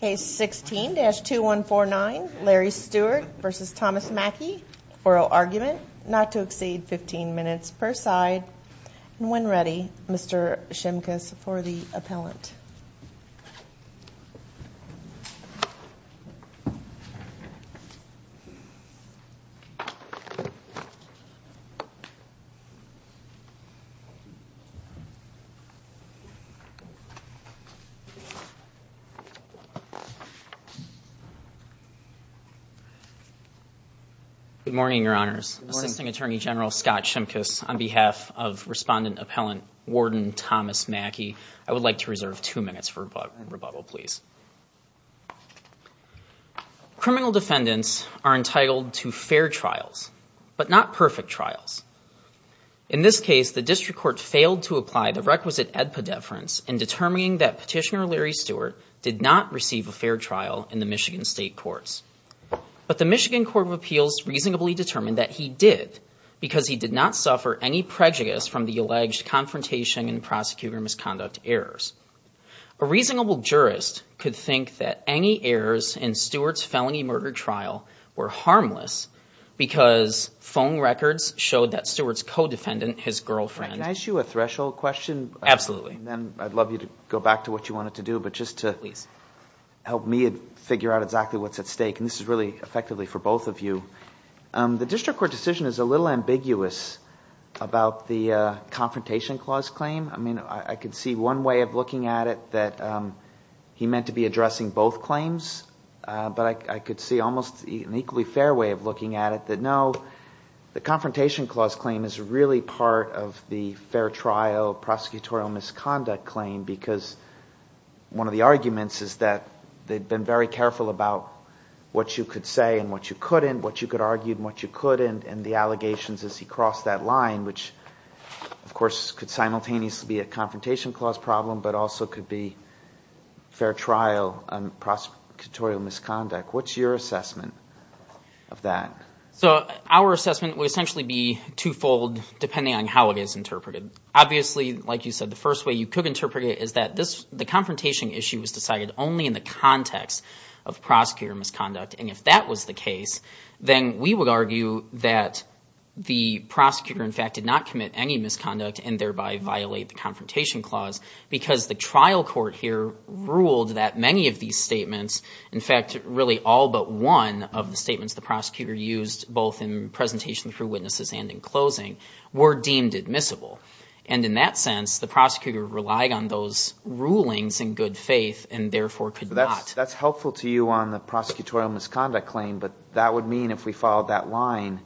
Case 16-2149 Larry Stewart v. Thomas Mackie, Oral Argument, not to exceed 15 minutes per side. When ready Mr. Shimkus for the appellant. Good morning, your honors. Assisting Attorney General Scott Shimkus on behalf of Respondent Appellant Warden Thomas Mackie. I would like to reserve two minutes for rebuttal, please. Criminal defendants are entitled to fair trials, but not perfect trials. In this case, the did not receive a fair trial in the Michigan State Courts. But the Michigan Court of Appeals reasonably determined that he did because he did not suffer any prejudice from the alleged confrontation and prosecutor misconduct errors. A reasonable jurist could think that any errors in Stewart's felony murder trial were harmless because phone records showed that Stewart's co-defendant, his girlfriend. Can I ask you a threshold question? Absolutely. And then I'd love you to go back to what you wanted to do, but just to help me figure out exactly what's at stake. And this is really effectively for both of you. The district court decision is a little ambiguous about the confrontation clause claim. I mean, I could see one way of looking at it that he meant to be addressing both claims, but I could see almost an equally fair way of looking at it that no, the confrontation clause claim is really part of the fair trial prosecutorial misconduct claim because one of the arguments is that they've been very careful about what you could say and what you couldn't, what you could argue and what you couldn't, and the allegations as he crossed that line, which of course could simultaneously be a confrontation clause problem, but also could be fair trial on prosecutorial misconduct. What's your assessment of that? So our assessment would essentially be twofold depending on how it is interpreted. Obviously, like you said, the first way you could interpret it is that this, the confrontation issue was decided only in the context of prosecutorial misconduct. And if that was the case, then we would argue that the prosecutor in fact did not commit any misconduct and thereby violate the confrontation clause because the trial court here ruled that many of these statements, in fact, really all but one of the statements the prosecutor used both in presentation through witnesses and in closing were deemed admissible. And in that sense, the prosecutor relied on those rulings in good faith and therefore could not. That's helpful to you on the prosecutorial misconduct claim, but that would mean if we followed that line,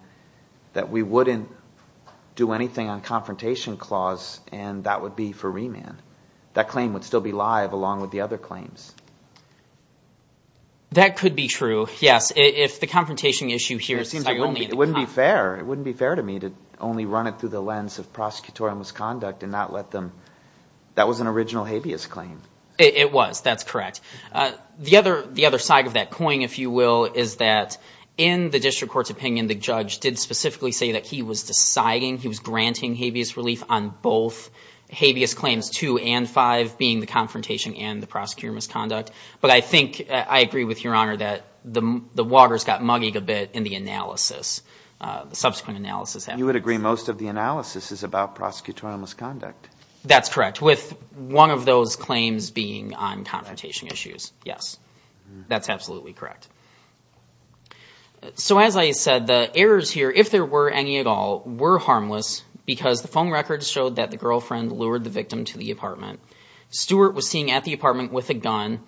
that we wouldn't do anything on confrontation clause and that would be for remand. That claim would still be live along with the other claims. That could be true. Yes. If the confrontation issue here... It wouldn't be fair. It wouldn't be fair to me to only run it through the lens of prosecutorial misconduct and not let them... That was an original habeas claim. It was. That's correct. The other side of that coin, if you will, is that in the district court's opinion, the judge did specifically say that he was deciding, he was granting habeas relief on both habeas claims two and five being the confrontation and the prosecutorial misconduct. But I think I agree with your honor that the walkers got mugging a bit in the analysis, the subsequent analysis. You would agree most of the analysis is about prosecutorial misconduct. That's correct. With one of those claims being on confrontation issues. Yes. That's absolutely correct. So as I said, the errors here, if there were any at all, were harmless because the phone records showed that the girlfriend lured the victim to the apartment. Stewart was seen at the apartment with a gun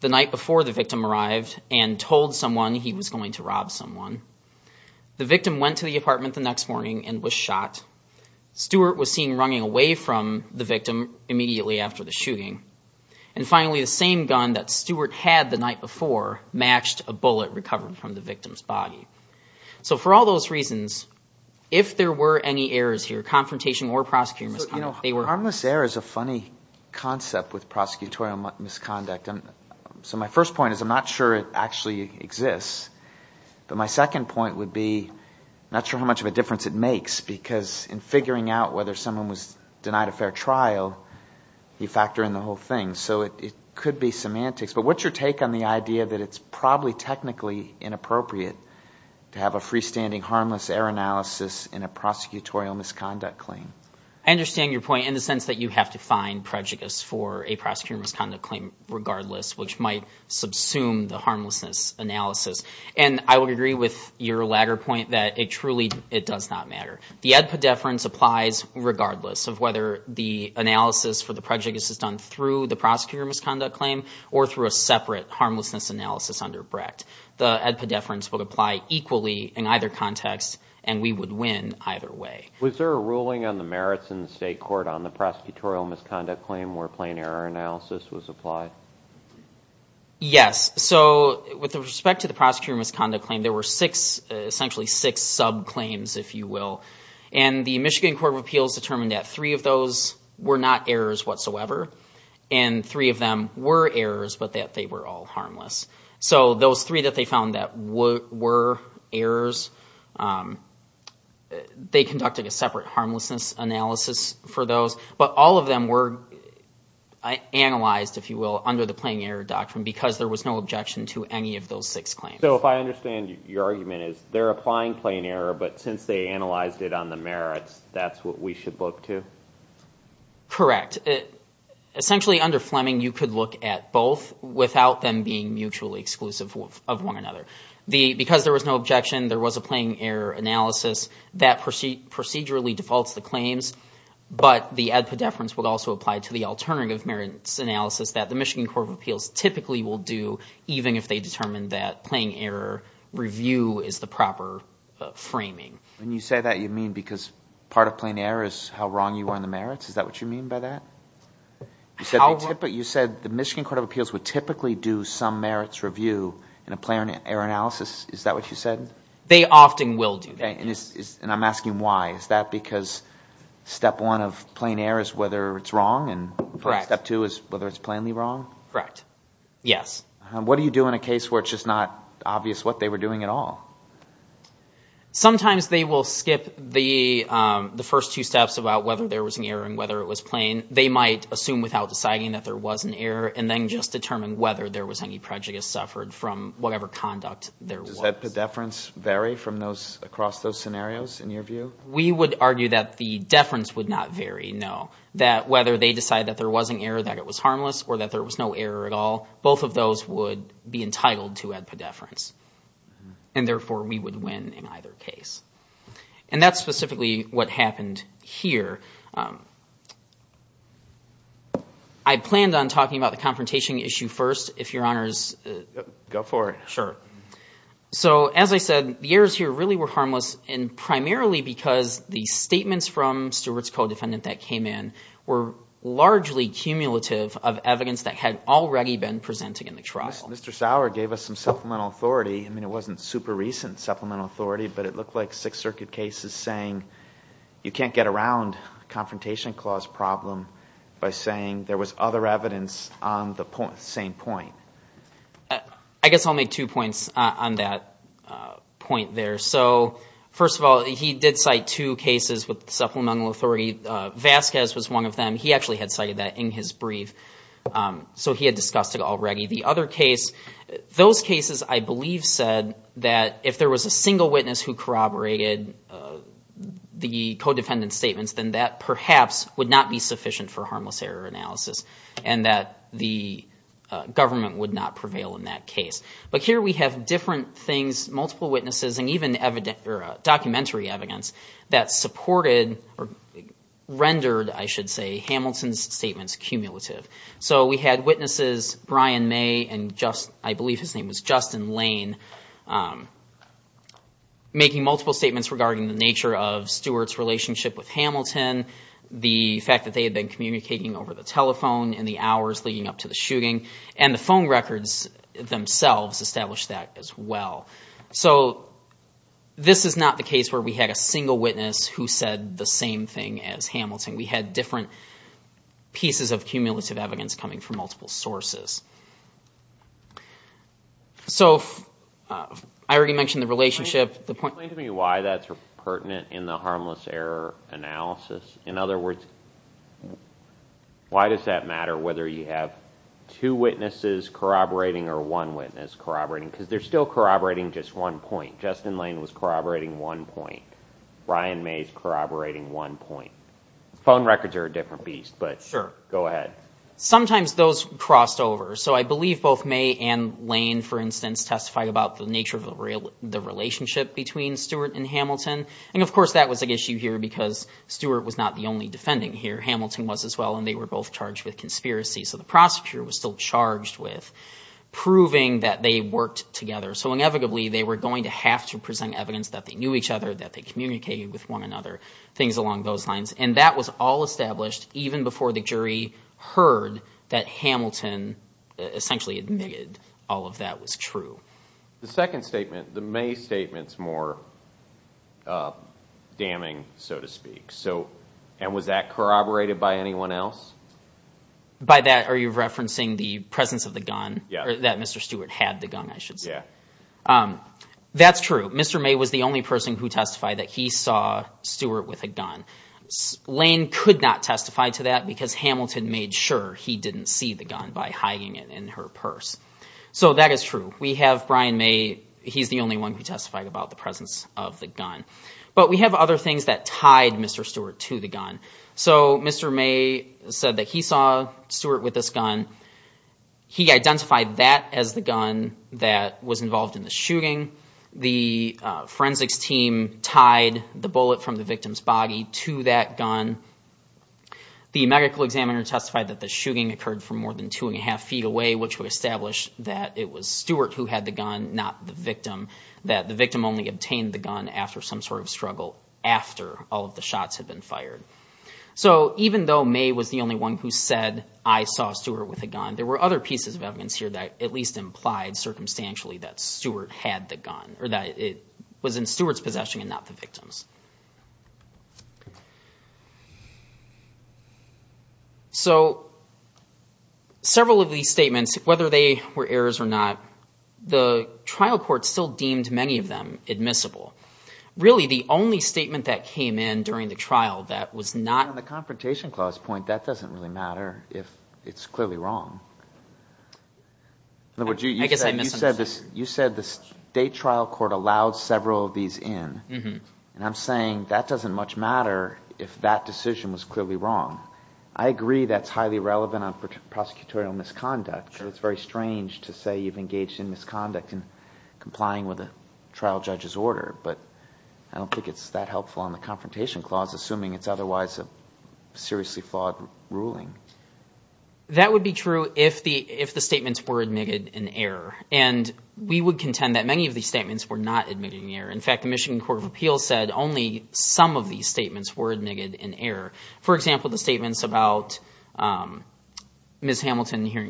the night before the victim arrived and told someone he was going to rob someone. The victim went to the apartment the next morning and was shot. Stewart was seen running away from the victim immediately after the shooting. And finally, the same gun that Stewart had the night before matched a bullet recovered from the victim's body. So for all those reasons, if there were any errors here, confrontation or prosecutorial misconduct, they were... My first point is I'm not sure it actually exists. But my second point would be not sure how much of a difference it makes because in figuring out whether someone was denied a fair trial, you factor in the whole thing. So it could be semantics. But what's your take on the idea that it's probably technically inappropriate to have a freestanding harmless error analysis in a prosecutorial misconduct claim? I understand your point in the sense that you have to find prejudice for a prosecutorial misconduct claim to assume the harmlessness analysis. And I would agree with your latter point that it truly, it does not matter. The edpedeference applies regardless of whether the analysis for the prejudice is done through the prosecutorial misconduct claim or through a separate harmlessness analysis under Brecht. The edpedeference would apply equally in either context and we would win either way. Was there a ruling on the merits in the state court on the prosecutorial misconduct claim where plain error analysis was applied? Yes. So with respect to the prosecutorial misconduct claim, there were six, essentially six subclaims, if you will. And the Michigan Court of Appeals determined that three of those were not errors whatsoever. And three of them were errors, but that they were all harmless. So those three that they found that were errors, they conducted a separate harmlessness analysis for those. But all of them were analyzed, if you will, under the plain error doctrine because there was no objection to any of those six claims. So if I understand your argument is they're applying plain error, but since they analyzed it on the merits, that's what we should look to? Correct. Essentially under Fleming, you could look at both without them being mutually exclusive of one another. Because there was no objection, there was a plain error analysis that procedurally defaults the claims. But the ad podeferens will also apply to the alternative merits analysis that the Michigan Court of Appeals typically will do, even if they determine that plain error review is the proper framing. When you say that, you mean because part of plain error is how wrong you are in the merits? Is that what you mean by that? You said the Michigan Court of Appeals would typically do some merits review in a plain error analysis. Is that what you said? They often will do that. Okay. And I'm asking why. Is that because step one of plain error is whether it's wrong? Correct. And step two is whether it's plainly wrong? Correct. Yes. What do you do in a case where it's just not obvious what they were doing at all? Sometimes they will skip the first two steps about whether there was an error and whether it was plain. They might assume without deciding that there was an error and then just determine whether there was any prejudice suffered from whatever conduct there was. Does that pedeference vary across those scenarios in your view? We would argue that the deference would not vary, no. That whether they decide that there was an error, that it was harmless, or that there was no error at all, both of those would be entitled to add pedeference. And therefore, we would win in either case. And that's specifically what happened here. I planned on talking about the confrontation issue first, if Your Honors... Go for it. Sure. So, as I said, the errors here really were harmless, and primarily because the statements from Stewart's co-defendant that came in were largely cumulative of evidence that had already been presented in the trial. Mr. Sauer gave us some supplemental authority. I mean, it wasn't super recent supplemental authority, but it looked like Sixth Circuit cases saying you can't get around a confrontation clause problem by saying there was other evidence on the same point. I guess I'll make two points on that point there. So, first of all, he did cite two cases with supplemental authority. Vasquez was one of them. He actually had cited that in his brief. So he had discussed it already. The other case, those cases I believe said that if there was a single witness who corroborated the co-defendant's statements, then that perhaps would not be sufficient for harmless error analysis, and that the government would not prevail in that case. But here we have different things, multiple witnesses, and even documentary evidence that supported or rendered, I should say, Hamilton's statements cumulative. So we had witnesses Brian May and Justin, I believe his name was Justin Lane, making multiple statements regarding the nature of Stewart's relationship with Hamilton, the fact that they had been communicating over the telephone, in the hours leading up to the shooting, and the phone records themselves established that as well. So this is not the case where we had a single witness who said the same thing as Hamilton. We had different pieces of cumulative evidence coming from multiple sources. So I already mentioned the relationship. Can you explain to me why that's pertinent in the harmless error analysis? In other words, why does that matter whether you have two witnesses corroborating or one witness corroborating? Because they're still corroborating just one point. Justin Lane was corroborating one point. Brian May is corroborating one point. Phone records are a different beast, but go ahead. Sometimes those crossed over. So I believe both May and Lane, for instance, testified about the nature of the relationship between Stewart and Hamilton. And of course, that was an issue here because Stewart was not the only defending here. Hamilton was as well, and they were both charged with conspiracy. So the prosecutor was still charged with proving that they worked together. So inevitably, they were going to have to present evidence that they knew each other, that they communicated with one another, things along those lines. And that was all established even before the jury heard that Hamilton essentially admitted all of that was true. The second statement, the May statement's more damning, so to speak. And was that corroborated by anyone else? By that, are you referencing the presence of the gun? Yeah. That Mr. Stewart had the gun, I should say. Yeah. That's true. Mr. May was the only person who testified that he saw Stewart with a gun. Lane could not testify to that because Hamilton made sure he didn't see the gun by hiding it in her purse. So that is true. We have Brian May, he's the only one who testified about the presence of the gun. But we have other things that tied Mr. Stewart to the gun. So Mr. May said that he saw Stewart with this gun. He identified that as the gun that was involved in the shooting. The forensics team tied the bullet from the victim's body to that gun. The medical examiner testified that the shooting occurred from more than two and a half feet away, which would establish that it was Stewart who had the gun, not the victim, that the victim only obtained the gun after some sort of struggle after all of the shots had been fired. So even though May was the only one who said, I saw Stewart with a gun, there were other pieces of evidence here that at least implied circumstantially that Stewart had the gun, or that it was in Stewart's Whether they were errors or not, the trial court still deemed many of them admissible. Really, the only statement that came in during the trial that was not... On the confrontation clause point, that doesn't really matter if it's clearly wrong. You said the state trial court allowed several of these in. And I'm saying that doesn't much matter if that decision was clearly wrong. I agree that's highly relevant on prosecutorial misconduct. So it's very strange to say you've engaged in misconduct and complying with a trial judge's order. But I don't think it's that helpful on the confrontation clause, assuming it's otherwise a seriously flawed ruling. That would be true if the statements were admitted in error. And we would contend that many of these statements were not admitted in error. In fact, the Michigan Court of Appeals said only some of hearing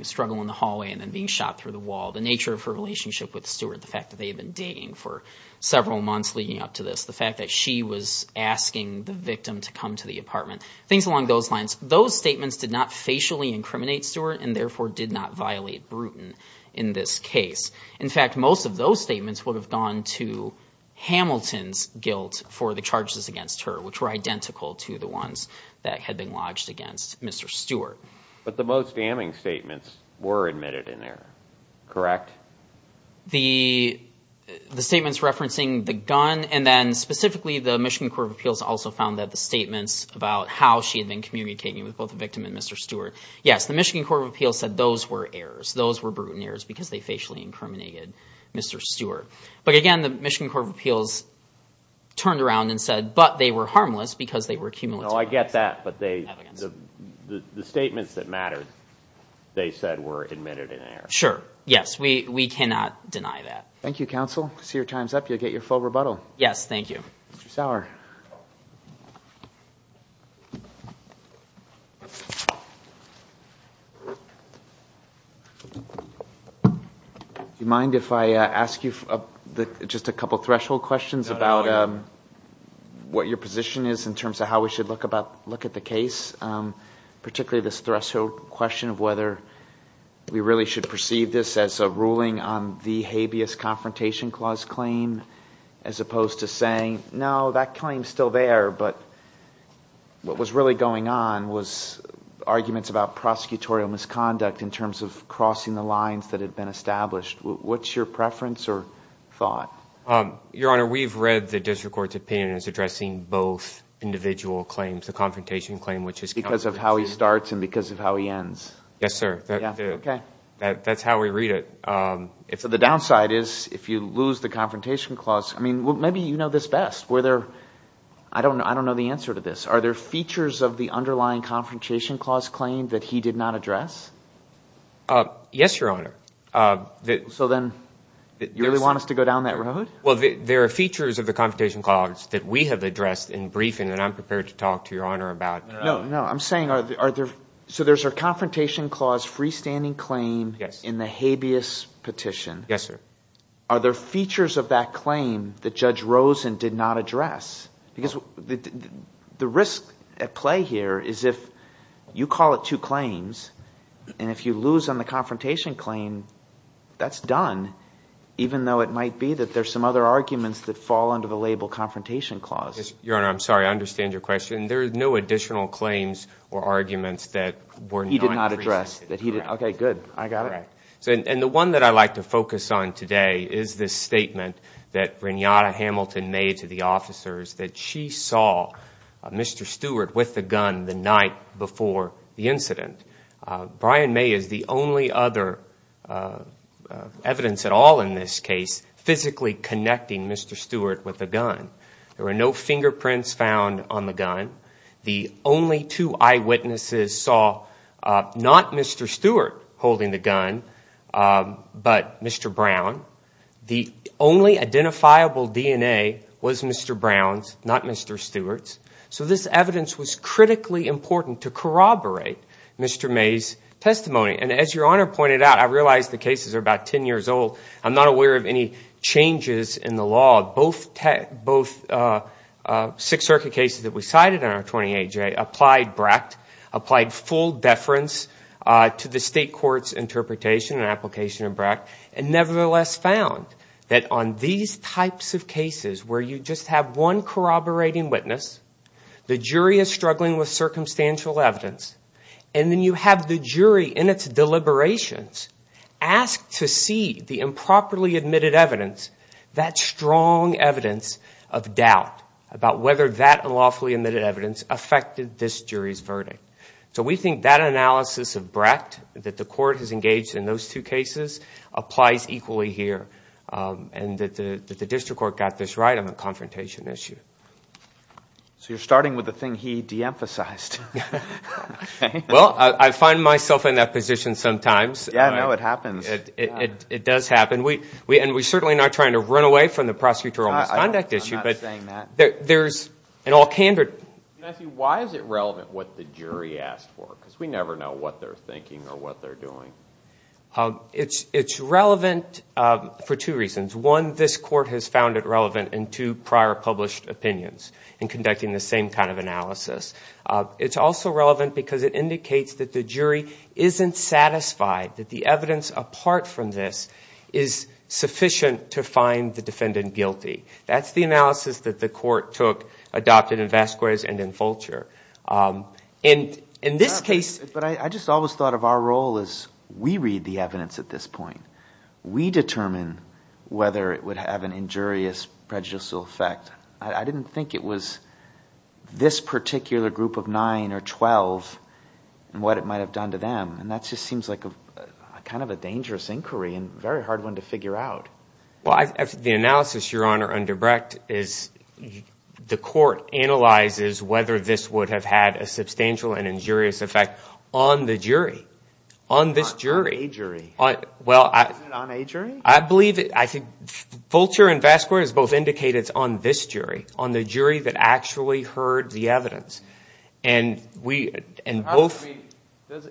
a struggle in the hallway and then being shot through the wall. The nature of her relationship with Stewart. The fact that they had been dating for several months leading up to this. The fact that she was asking the victim to come to the apartment. Things along those lines. Those statements did not facially incriminate Stewart and therefore did not violate Bruton in this case. In fact, most of those statements would have gone to Hamilton's guilt for the charges against her, which were identical to the ones that had been lodged against Mr. Stewart. But the most damning statements were admitted in error. Correct? The statements referencing the gun and then specifically the Michigan Court of Appeals also found that the statements about how she had been communicating with both the victim and Mr. Stewart. Yes, the Michigan Court of Appeals said those were errors. Those were Bruton errors because they facially incriminated Mr. Stewart. But again, the Michigan Court of Appeals turned around and said, but they were harmless because they were accumulative. I get that, but the statements that mattered, they said were admitted in error. Sure, yes. We cannot deny that. Thank you, counsel. I see your time's up. You'll get your full rebuttal. Yes, thank you. Mr. Sauer. Do you mind if I ask you just a couple threshold questions about what your position is in terms of how we should look at the case, particularly this threshold question of whether we really should perceive this as a ruling on the habeas confrontation clause claim, as opposed to saying, no, that claim's still there, but what was really going on was arguments about prosecutorial misconduct in terms of crossing the lines that had been established. What's your preference or thought? Your Honor, we've read the district court's opinion as addressing both individual claims, the confrontation claim, which is- Because of how he starts and because of how he ends. Yes, sir. That's how we read it. The downside is if you lose the confrontation clause, I mean, maybe you know this best. I don't know the answer to this. Are there features of the underlying confrontation clause claim that he did not address? Yes, Your Honor. So then you really want us to go down that road? Well, there are features of the confrontation clause that we have addressed in briefing, and I'm prepared to talk to Your Honor about- No, no. I'm saying, so there's a confrontation clause freestanding claim in the habeas petition. Yes, sir. Are there features of that claim that Judge Rosen did not address? Because the risk at play here is if you call it two claims, and if you lose on the confrontation claim, that's done, even though it might be that there's some other arguments that fall under the label confrontation clause. Your Honor, I'm sorry. I understand your question. There are no additional claims or arguments that were not- He did not address. Okay, good. I got it. And the one that I'd like to focus on today is this statement that Renata Hamilton made to the officers that she saw Mr. Stewart with the gun the night before the incident. Brian May is the only other evidence at all in this case physically connecting Mr. Stewart with the gun. There were no fingerprints found on the gun. The only two eyewitnesses saw not Mr. Stewart holding the gun, but Mr. Brown. The only identifiable DNA was Mr. Brown's, not Mr. Stewart's. So this evidence was critically important to corroborate Mr. May's testimony. And as your Honor pointed out, I realize the cases are about 10 years old. I'm not aware of any changes in the law. Both Sixth Circuit cases that we cited in our 28J applied BRACT, applied full deference to the state court's interpretation and application of BRACT, and nevertheless found that on these types of cases where you just have one corroborating witness, the jury is struggling with circumstantial evidence, and then you have the jury in its deliberations ask to see the improperly admitted evidence, that strong evidence of doubt about whether that unlawfully admitted evidence affected this jury's verdict. So we think that analysis of cases applies equally here, and that the district court got this right on the confrontation issue. So you're starting with the thing he de-emphasized. Well, I find myself in that position sometimes. Yeah, I know. It happens. It does happen. And we're certainly not trying to run away from the prosecutorial misconduct issue. I'm not saying that. Why is it relevant what the jury asked for? Because we never know what they're thinking or what they're doing. It's relevant for two reasons. One, this court has found it relevant in two prior published opinions in conducting the same kind of analysis. It's also relevant because it indicates that the jury isn't satisfied that the evidence apart from this is sufficient to find the defendant guilty. That's the analysis that the court took, adopted in Vasquez and in But I just always thought of our role as we read the evidence at this point. We determine whether it would have an injurious prejudicial effect. I didn't think it was this particular group of nine or 12 and what it might have done to them. And that just seems like a kind of a dangerous inquiry and very hard one to figure out. Well, the analysis, Your Honor, under Brecht is the court analyzes whether this would have had a substantial and injurious effect on the jury, on this jury. On a jury. Well, I... Isn't it on a jury? I believe it. I think Fulcher and Vasquez both indicated it's on this jury, on the jury that actually heard the evidence. And we...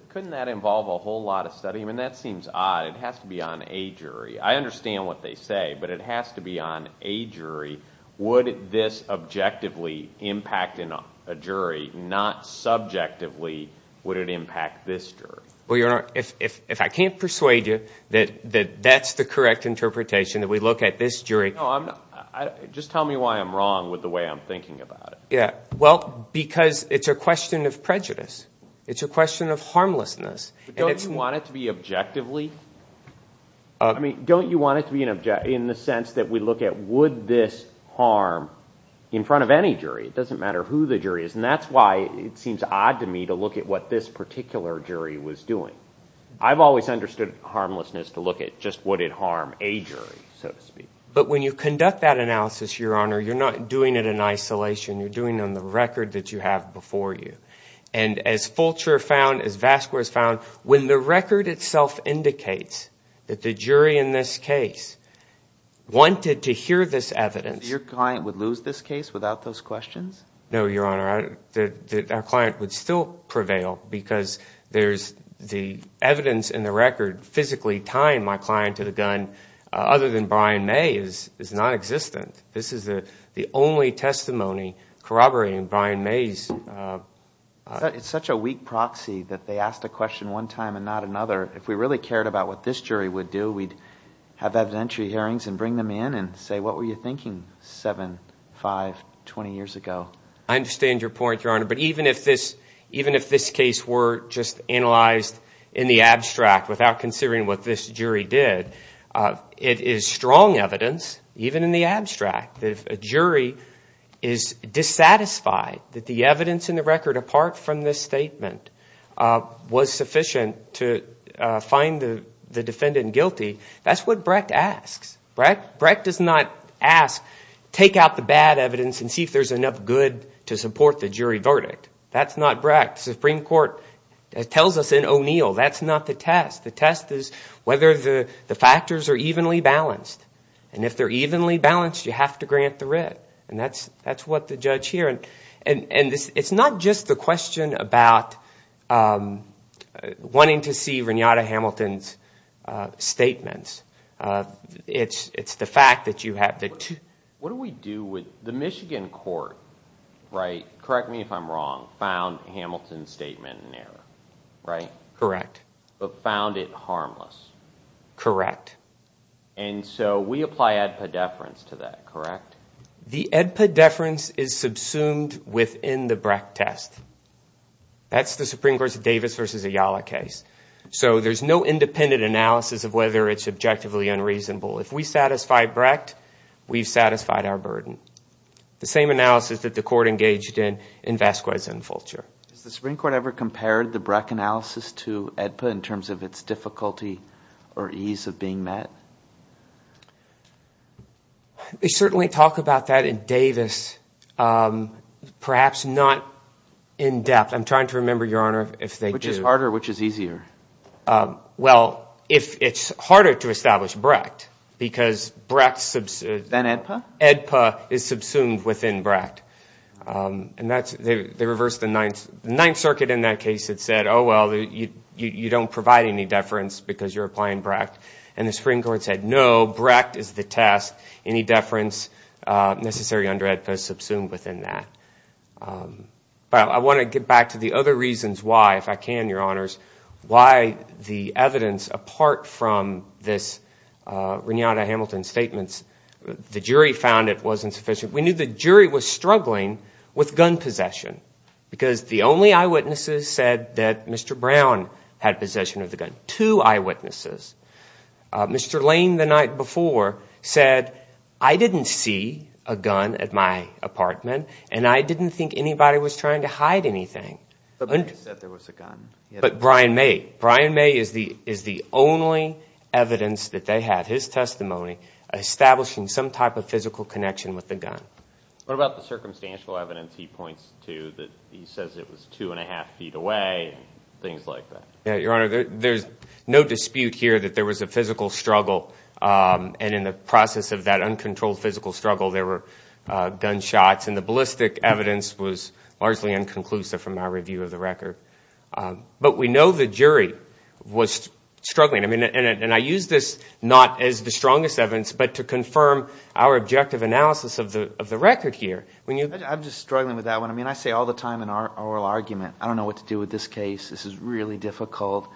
Couldn't that involve a whole lot of study? I mean, that seems odd. It has to be on a jury. I understand what they say, but it has to be on a jury. Would this objectively impact in a jury, not subjectively, would it impact this jury? Well, Your Honor, if I can't persuade you that that's the correct interpretation, that we look at this jury... No, I'm not. Just tell me why I'm wrong with the way I'm thinking about it. Yeah. Well, because it's a question of prejudice. It's a question of harmlessness. But don't you want it to be objectively? I mean, don't you want it to be in the sense that we look at would this harm in front of any jury? It doesn't matter who the jury is. And that's why it seems odd to me to look at what this particular jury was doing. I've always understood harmlessness to look at just would it harm a jury, so to speak. But when you conduct that analysis, Your Honor, you're not doing it in isolation. You're doing it on the record that you have before you. And as Fulcher found, as Vasquez found, when the record itself indicates that the jury in this case wanted to hear this evidence... No, Your Honor. Our client would still prevail because there's the evidence in the record physically tying my client to the gun other than Brian May is non-existent. This is the only testimony corroborating Brian May's... It's such a weak proxy that they asked a question one time and not another. If we really cared about what this jury would do, we'd have evidentiary hearings and bring them in and say, what were you thinking 7, 5, 20 years ago? I understand your point, Your Honor. But even if this case were just analyzed in the abstract without considering what this jury did, it is strong evidence, even in the abstract, that if a jury is dissatisfied that the evidence in the record apart from this statement was sufficient to find the defendant guilty, that's what Brecht asks. Brecht does not take out the bad evidence and see if there's enough good to support the jury verdict. That's not Brecht. The Supreme Court tells us in O'Neill, that's not the test. The test is whether the factors are evenly balanced. And if they're evenly balanced, you have to grant the writ. And that's what the judge here... And it's not just the question about wanting to see Renata Hamilton's statements. It's the fact that you have to... What do we do with the Michigan court, right? Correct me if I'm wrong, found Hamilton's statement in error, right? Correct. But found it harmless. Correct. And so we apply EDPA deference to that, correct? The EDPA deference is subsumed within the Brecht test. That's the Supreme Court's Davis versus Ayala case. So there's no independent analysis of whether it's objectively unreasonable. If we satisfy Brecht, we've satisfied our burden. The same analysis that the court engaged in, in Vasquez and Fulcher. Has the Supreme Court ever compared the Brecht analysis to EDPA in terms of its difficulty or ease of being met? We certainly talk about that in Davis. Perhaps not in depth. I'm trying to remember, Your Honor, if they do. Which is harder, which is easier? Well, if it's harder to establish Brecht, because Brecht... Than EDPA? EDPA is subsumed within Brecht. And that's... They reversed the Ninth... The Ninth Circuit in that case had said, oh, well, you don't provide any deference because you're applying Brecht. And the Supreme Court said, no, Brecht is the test. Any deference necessary under EDPA is subsumed within that. But I want to get back to the other reasons why, if I can, Your Honors, why the evidence, apart from this Renata Hamilton's statements, the jury found it was insufficient. We knew the jury was struggling with gun possession. Because the only eyewitnesses said that Mr. Brown had possession of the gun. Two eyewitnesses. Mr. Lane, the night before, said, I didn't see a gun at my apartment. And I didn't think anybody was trying to hide anything. But Brian said there was a gun. But Brian May. Brian May is the only evidence that they had, his testimony, establishing some type of physical connection with the gun. What about the circumstantial evidence he points to? That he says it was two and a half feet away, things like that. Your Honor, there's no dispute here that there was a physical struggle. And in the process of that uncontrolled physical struggle, there were gunshots. And the ballistic evidence was largely inconclusive from our review of the record. But we know the jury was struggling. I mean, and I use this not as the strongest evidence, but to confirm our objective analysis of the record here. I'm just struggling with that one. I mean, I say all the time in our oral argument, I don't know what to do with this case. This is really difficult.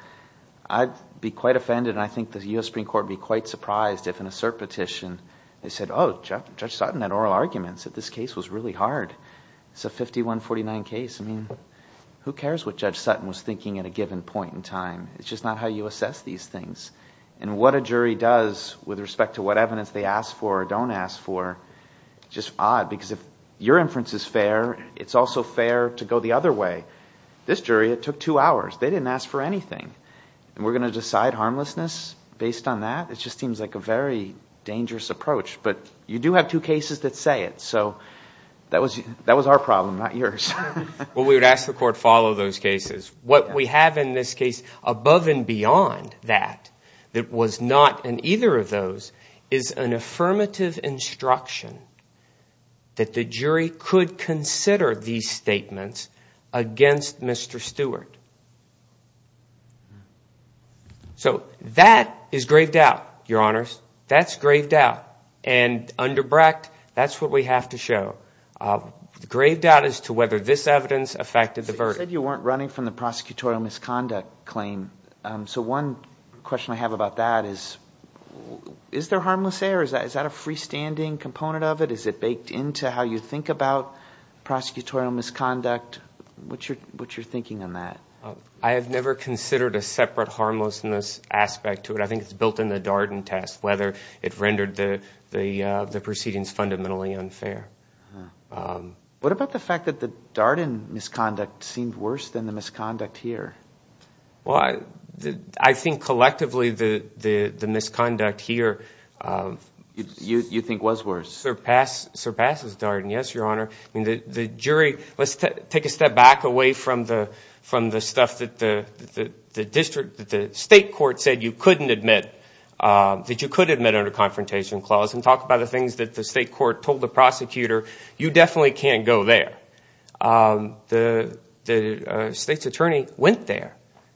I'd be quite offended. And I think the US Supreme Court would be quite surprised if in a cert petition, they said, oh, Judge Sutton had oral arguments that this case was really hard. It's a 51-49 case. I mean, who cares what Judge Sutton was thinking at a given point in time? It's just not how you assess these things. And what a jury does with respect to what evidence they ask for or don't ask for, just odd. Because if your inference is fair, it's also fair to go the other way. This jury, it took two hours. They didn't ask for anything. And we're going to decide harmlessness based on that? It just seems like a very dangerous approach. But you do have two cases that say it. So that was our problem, not yours. Well, we would ask the court follow those cases. What we have in this case above and beyond that, that was not in either of those, is an affirmative instruction that the jury could consider these statements against Mr. Stewart. So that is grave doubt, Your Honors. That's grave doubt. And under Brecht, that's what we have to show. Grave doubt as to whether this evidence affected the verdict. You said you weren't running from the prosecutorial misconduct claim. So one question I have about that is, is there harmless error? Is that a freestanding component of it? Is it baked into how you think about prosecutorial misconduct? What's your thinking on that? I have never considered a separate harmlessness aspect to it. I think it's built in the Darden test, whether it rendered the proceedings fundamentally unfair. What about the fact that the Darden misconduct seemed worse than the misconduct here? Well, I think collectively the misconduct here... You think was worse. ...surpasses Darden. Yes, Your Honor. I mean, the jury... Let's take a step back away from the stuff that the state court said you couldn't admit, that you could admit under confrontation clause and talk about the things that the state court told the prosecutor, you definitely can't go there. The state's attorney went there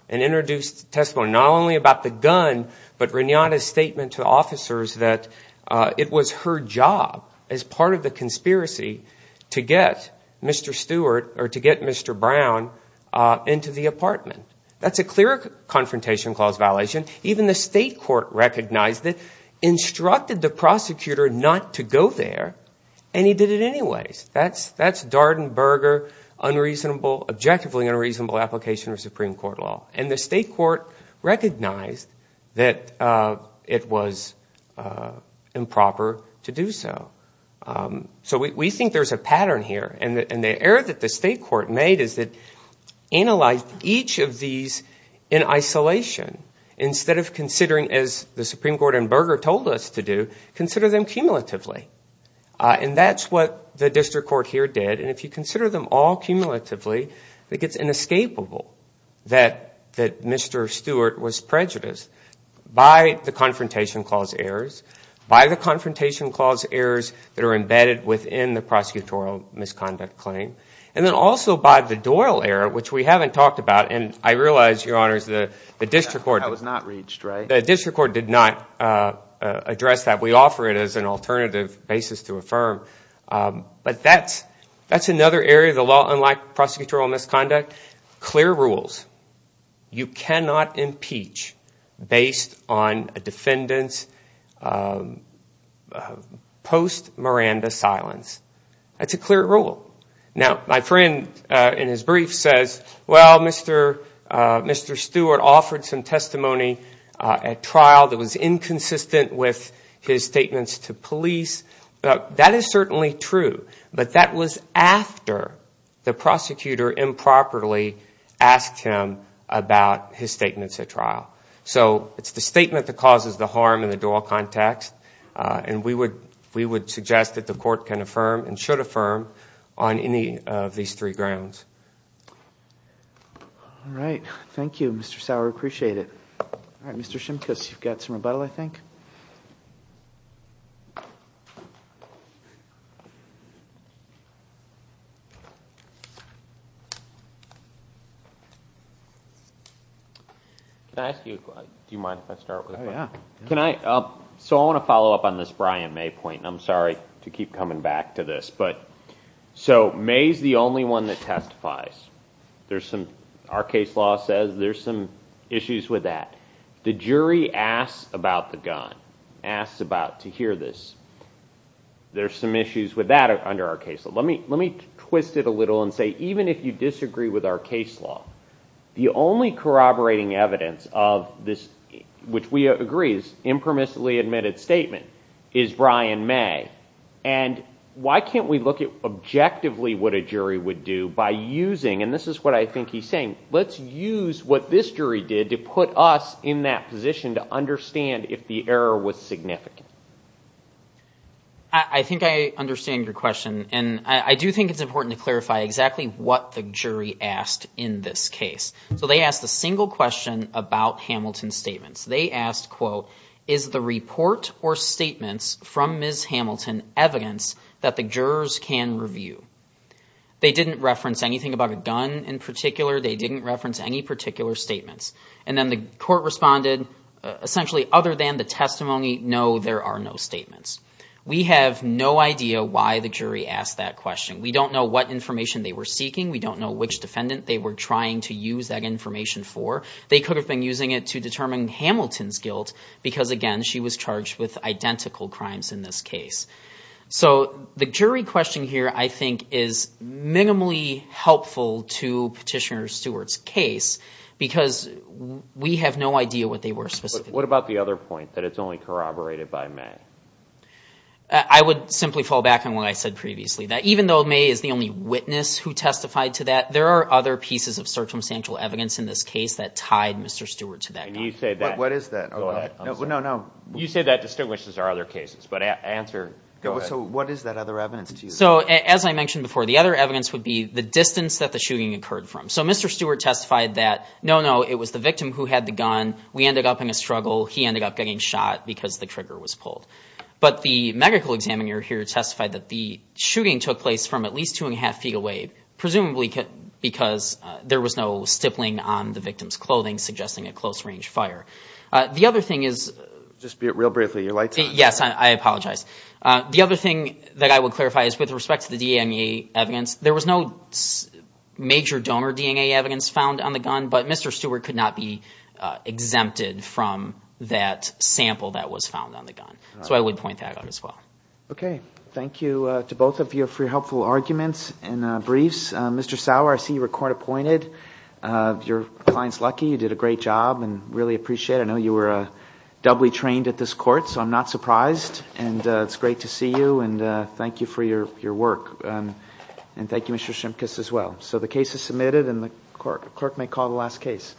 and introduced testimony, not only about the gun, but Renata's statement to officers that it was her job as part of the conspiracy to get Mr. Stewart or to get Mr. Brown into the apartment. That's a clear confrontation clause violation. Even the state court recognized it, instructed the prosecutor not to go there, and he did it anyways. That's Darden-Berger objectively unreasonable application of Supreme Court law. And the state court recognized that it was improper to do so. So we think there's a pattern here. And the error that the state court made is that analyzed each of these in isolation, instead of considering as the Supreme Court and Berger told us to do, consider them cumulatively. And that's what the district court here did. And if you consider them all cumulatively, I think it's inescapable that Mr. Stewart was prejudiced by the confrontation clause errors, by the confrontation clause errors that are embedded within the prosecutorial misconduct claim. And then also by the Doyle error, which we haven't talked about. And I realize, your honors, the district court- That was not reached, right? The district court did not address that. We offer it as an alternative basis to affirm. But that's another area of the law. Unlike prosecutorial misconduct, clear rules. You cannot impeach based on a defendant's post-Miranda silence. That's a clear rule. Now, my friend in his brief says, well, Mr. Stewart offered some testimony at trial that was inconsistent with his statements to police. That is certainly true. But that was after the prosecutor improperly asked him about his statements at trial. So it's the statement that causes the harm in the Doyle context. And we would suggest that the court can affirm and should affirm on any of these three grounds. All right. Thank you, Mr. Sauer. Appreciate it. All right, Mr. Shimkus. You've got some rebuttal, I think. Can I ask you, do you mind if I start with- Oh, yeah. Can I, so I want to follow up on this Brian May point. I'm sorry to keep coming back to this. But, so May's the only one that testifies. There's some, our case law says there's some issues with that. The jury asks about the gun, asks about, to hear this. There's some issues with that under our case. Let me twist it a little and say, even if you disagree with our case law, the only corroborating evidence of this, which we agree is impermissibly admitted statement, is Brian May. And why can't we look at objectively and this is what I think he's saying, let's use what this jury did to put us in that position to understand if the error was significant. I think I understand your question. And I do think it's important to clarify exactly what the jury asked in this case. So they asked a single question about Hamilton's statements. They asked, quote, is the report or statements from Ms. Hamilton evidence that the jurors can review? They didn't reference anything about a gun in particular. They didn't reference any particular statements. And then the court responded, essentially, other than the testimony, no, there are no statements. We have no idea why the jury asked that question. We don't know what information they were seeking. We don't know which defendant they were trying to use that information for. They could have been using it to determine Hamilton's guilt because again, she was charged with identical crimes in this case. So the jury question here, I think, is minimally helpful to Petitioner Stewart's case because we have no idea what they were specifically. But what about the other point, that it's only corroborated by May? I would simply fall back on what I said previously, that even though May is the only witness who testified to that, there are other pieces of circumstantial evidence in this case that tied Mr. Stewart to that gun. And you said that. What is that? Go ahead. No, no. You said that distinguishes our other cases. But answer, go ahead. So what is that other evidence to you? As I mentioned before, the other evidence would be the distance that the shooting occurred from. So Mr. Stewart testified that, no, no, it was the victim who had the gun. We ended up in a struggle. He ended up getting shot because the trigger was pulled. But the medical examiner here testified that the shooting took place from at least two and a half feet away, presumably because there was no stippling on the victim's clothing, suggesting a close range fire. The other thing is... Just be real briefly. You're late. Yes, I apologize. The other thing that I would clarify with respect to the DNA evidence, there was no major donor DNA evidence found on the gun. But Mr. Stewart could not be exempted from that sample that was found on the gun. So I would point that out as well. Okay. Thank you to both of you for your helpful arguments and briefs. Mr. Sauer, I see you were court appointed. Your client's lucky. You did a great job and really appreciate it. I know you were doubly trained at this court. So I'm not surprised. And it's great to see you. Thank you for your work. And thank you, Mr. Shimkus, as well. So the case is submitted and the clerk may call the last case.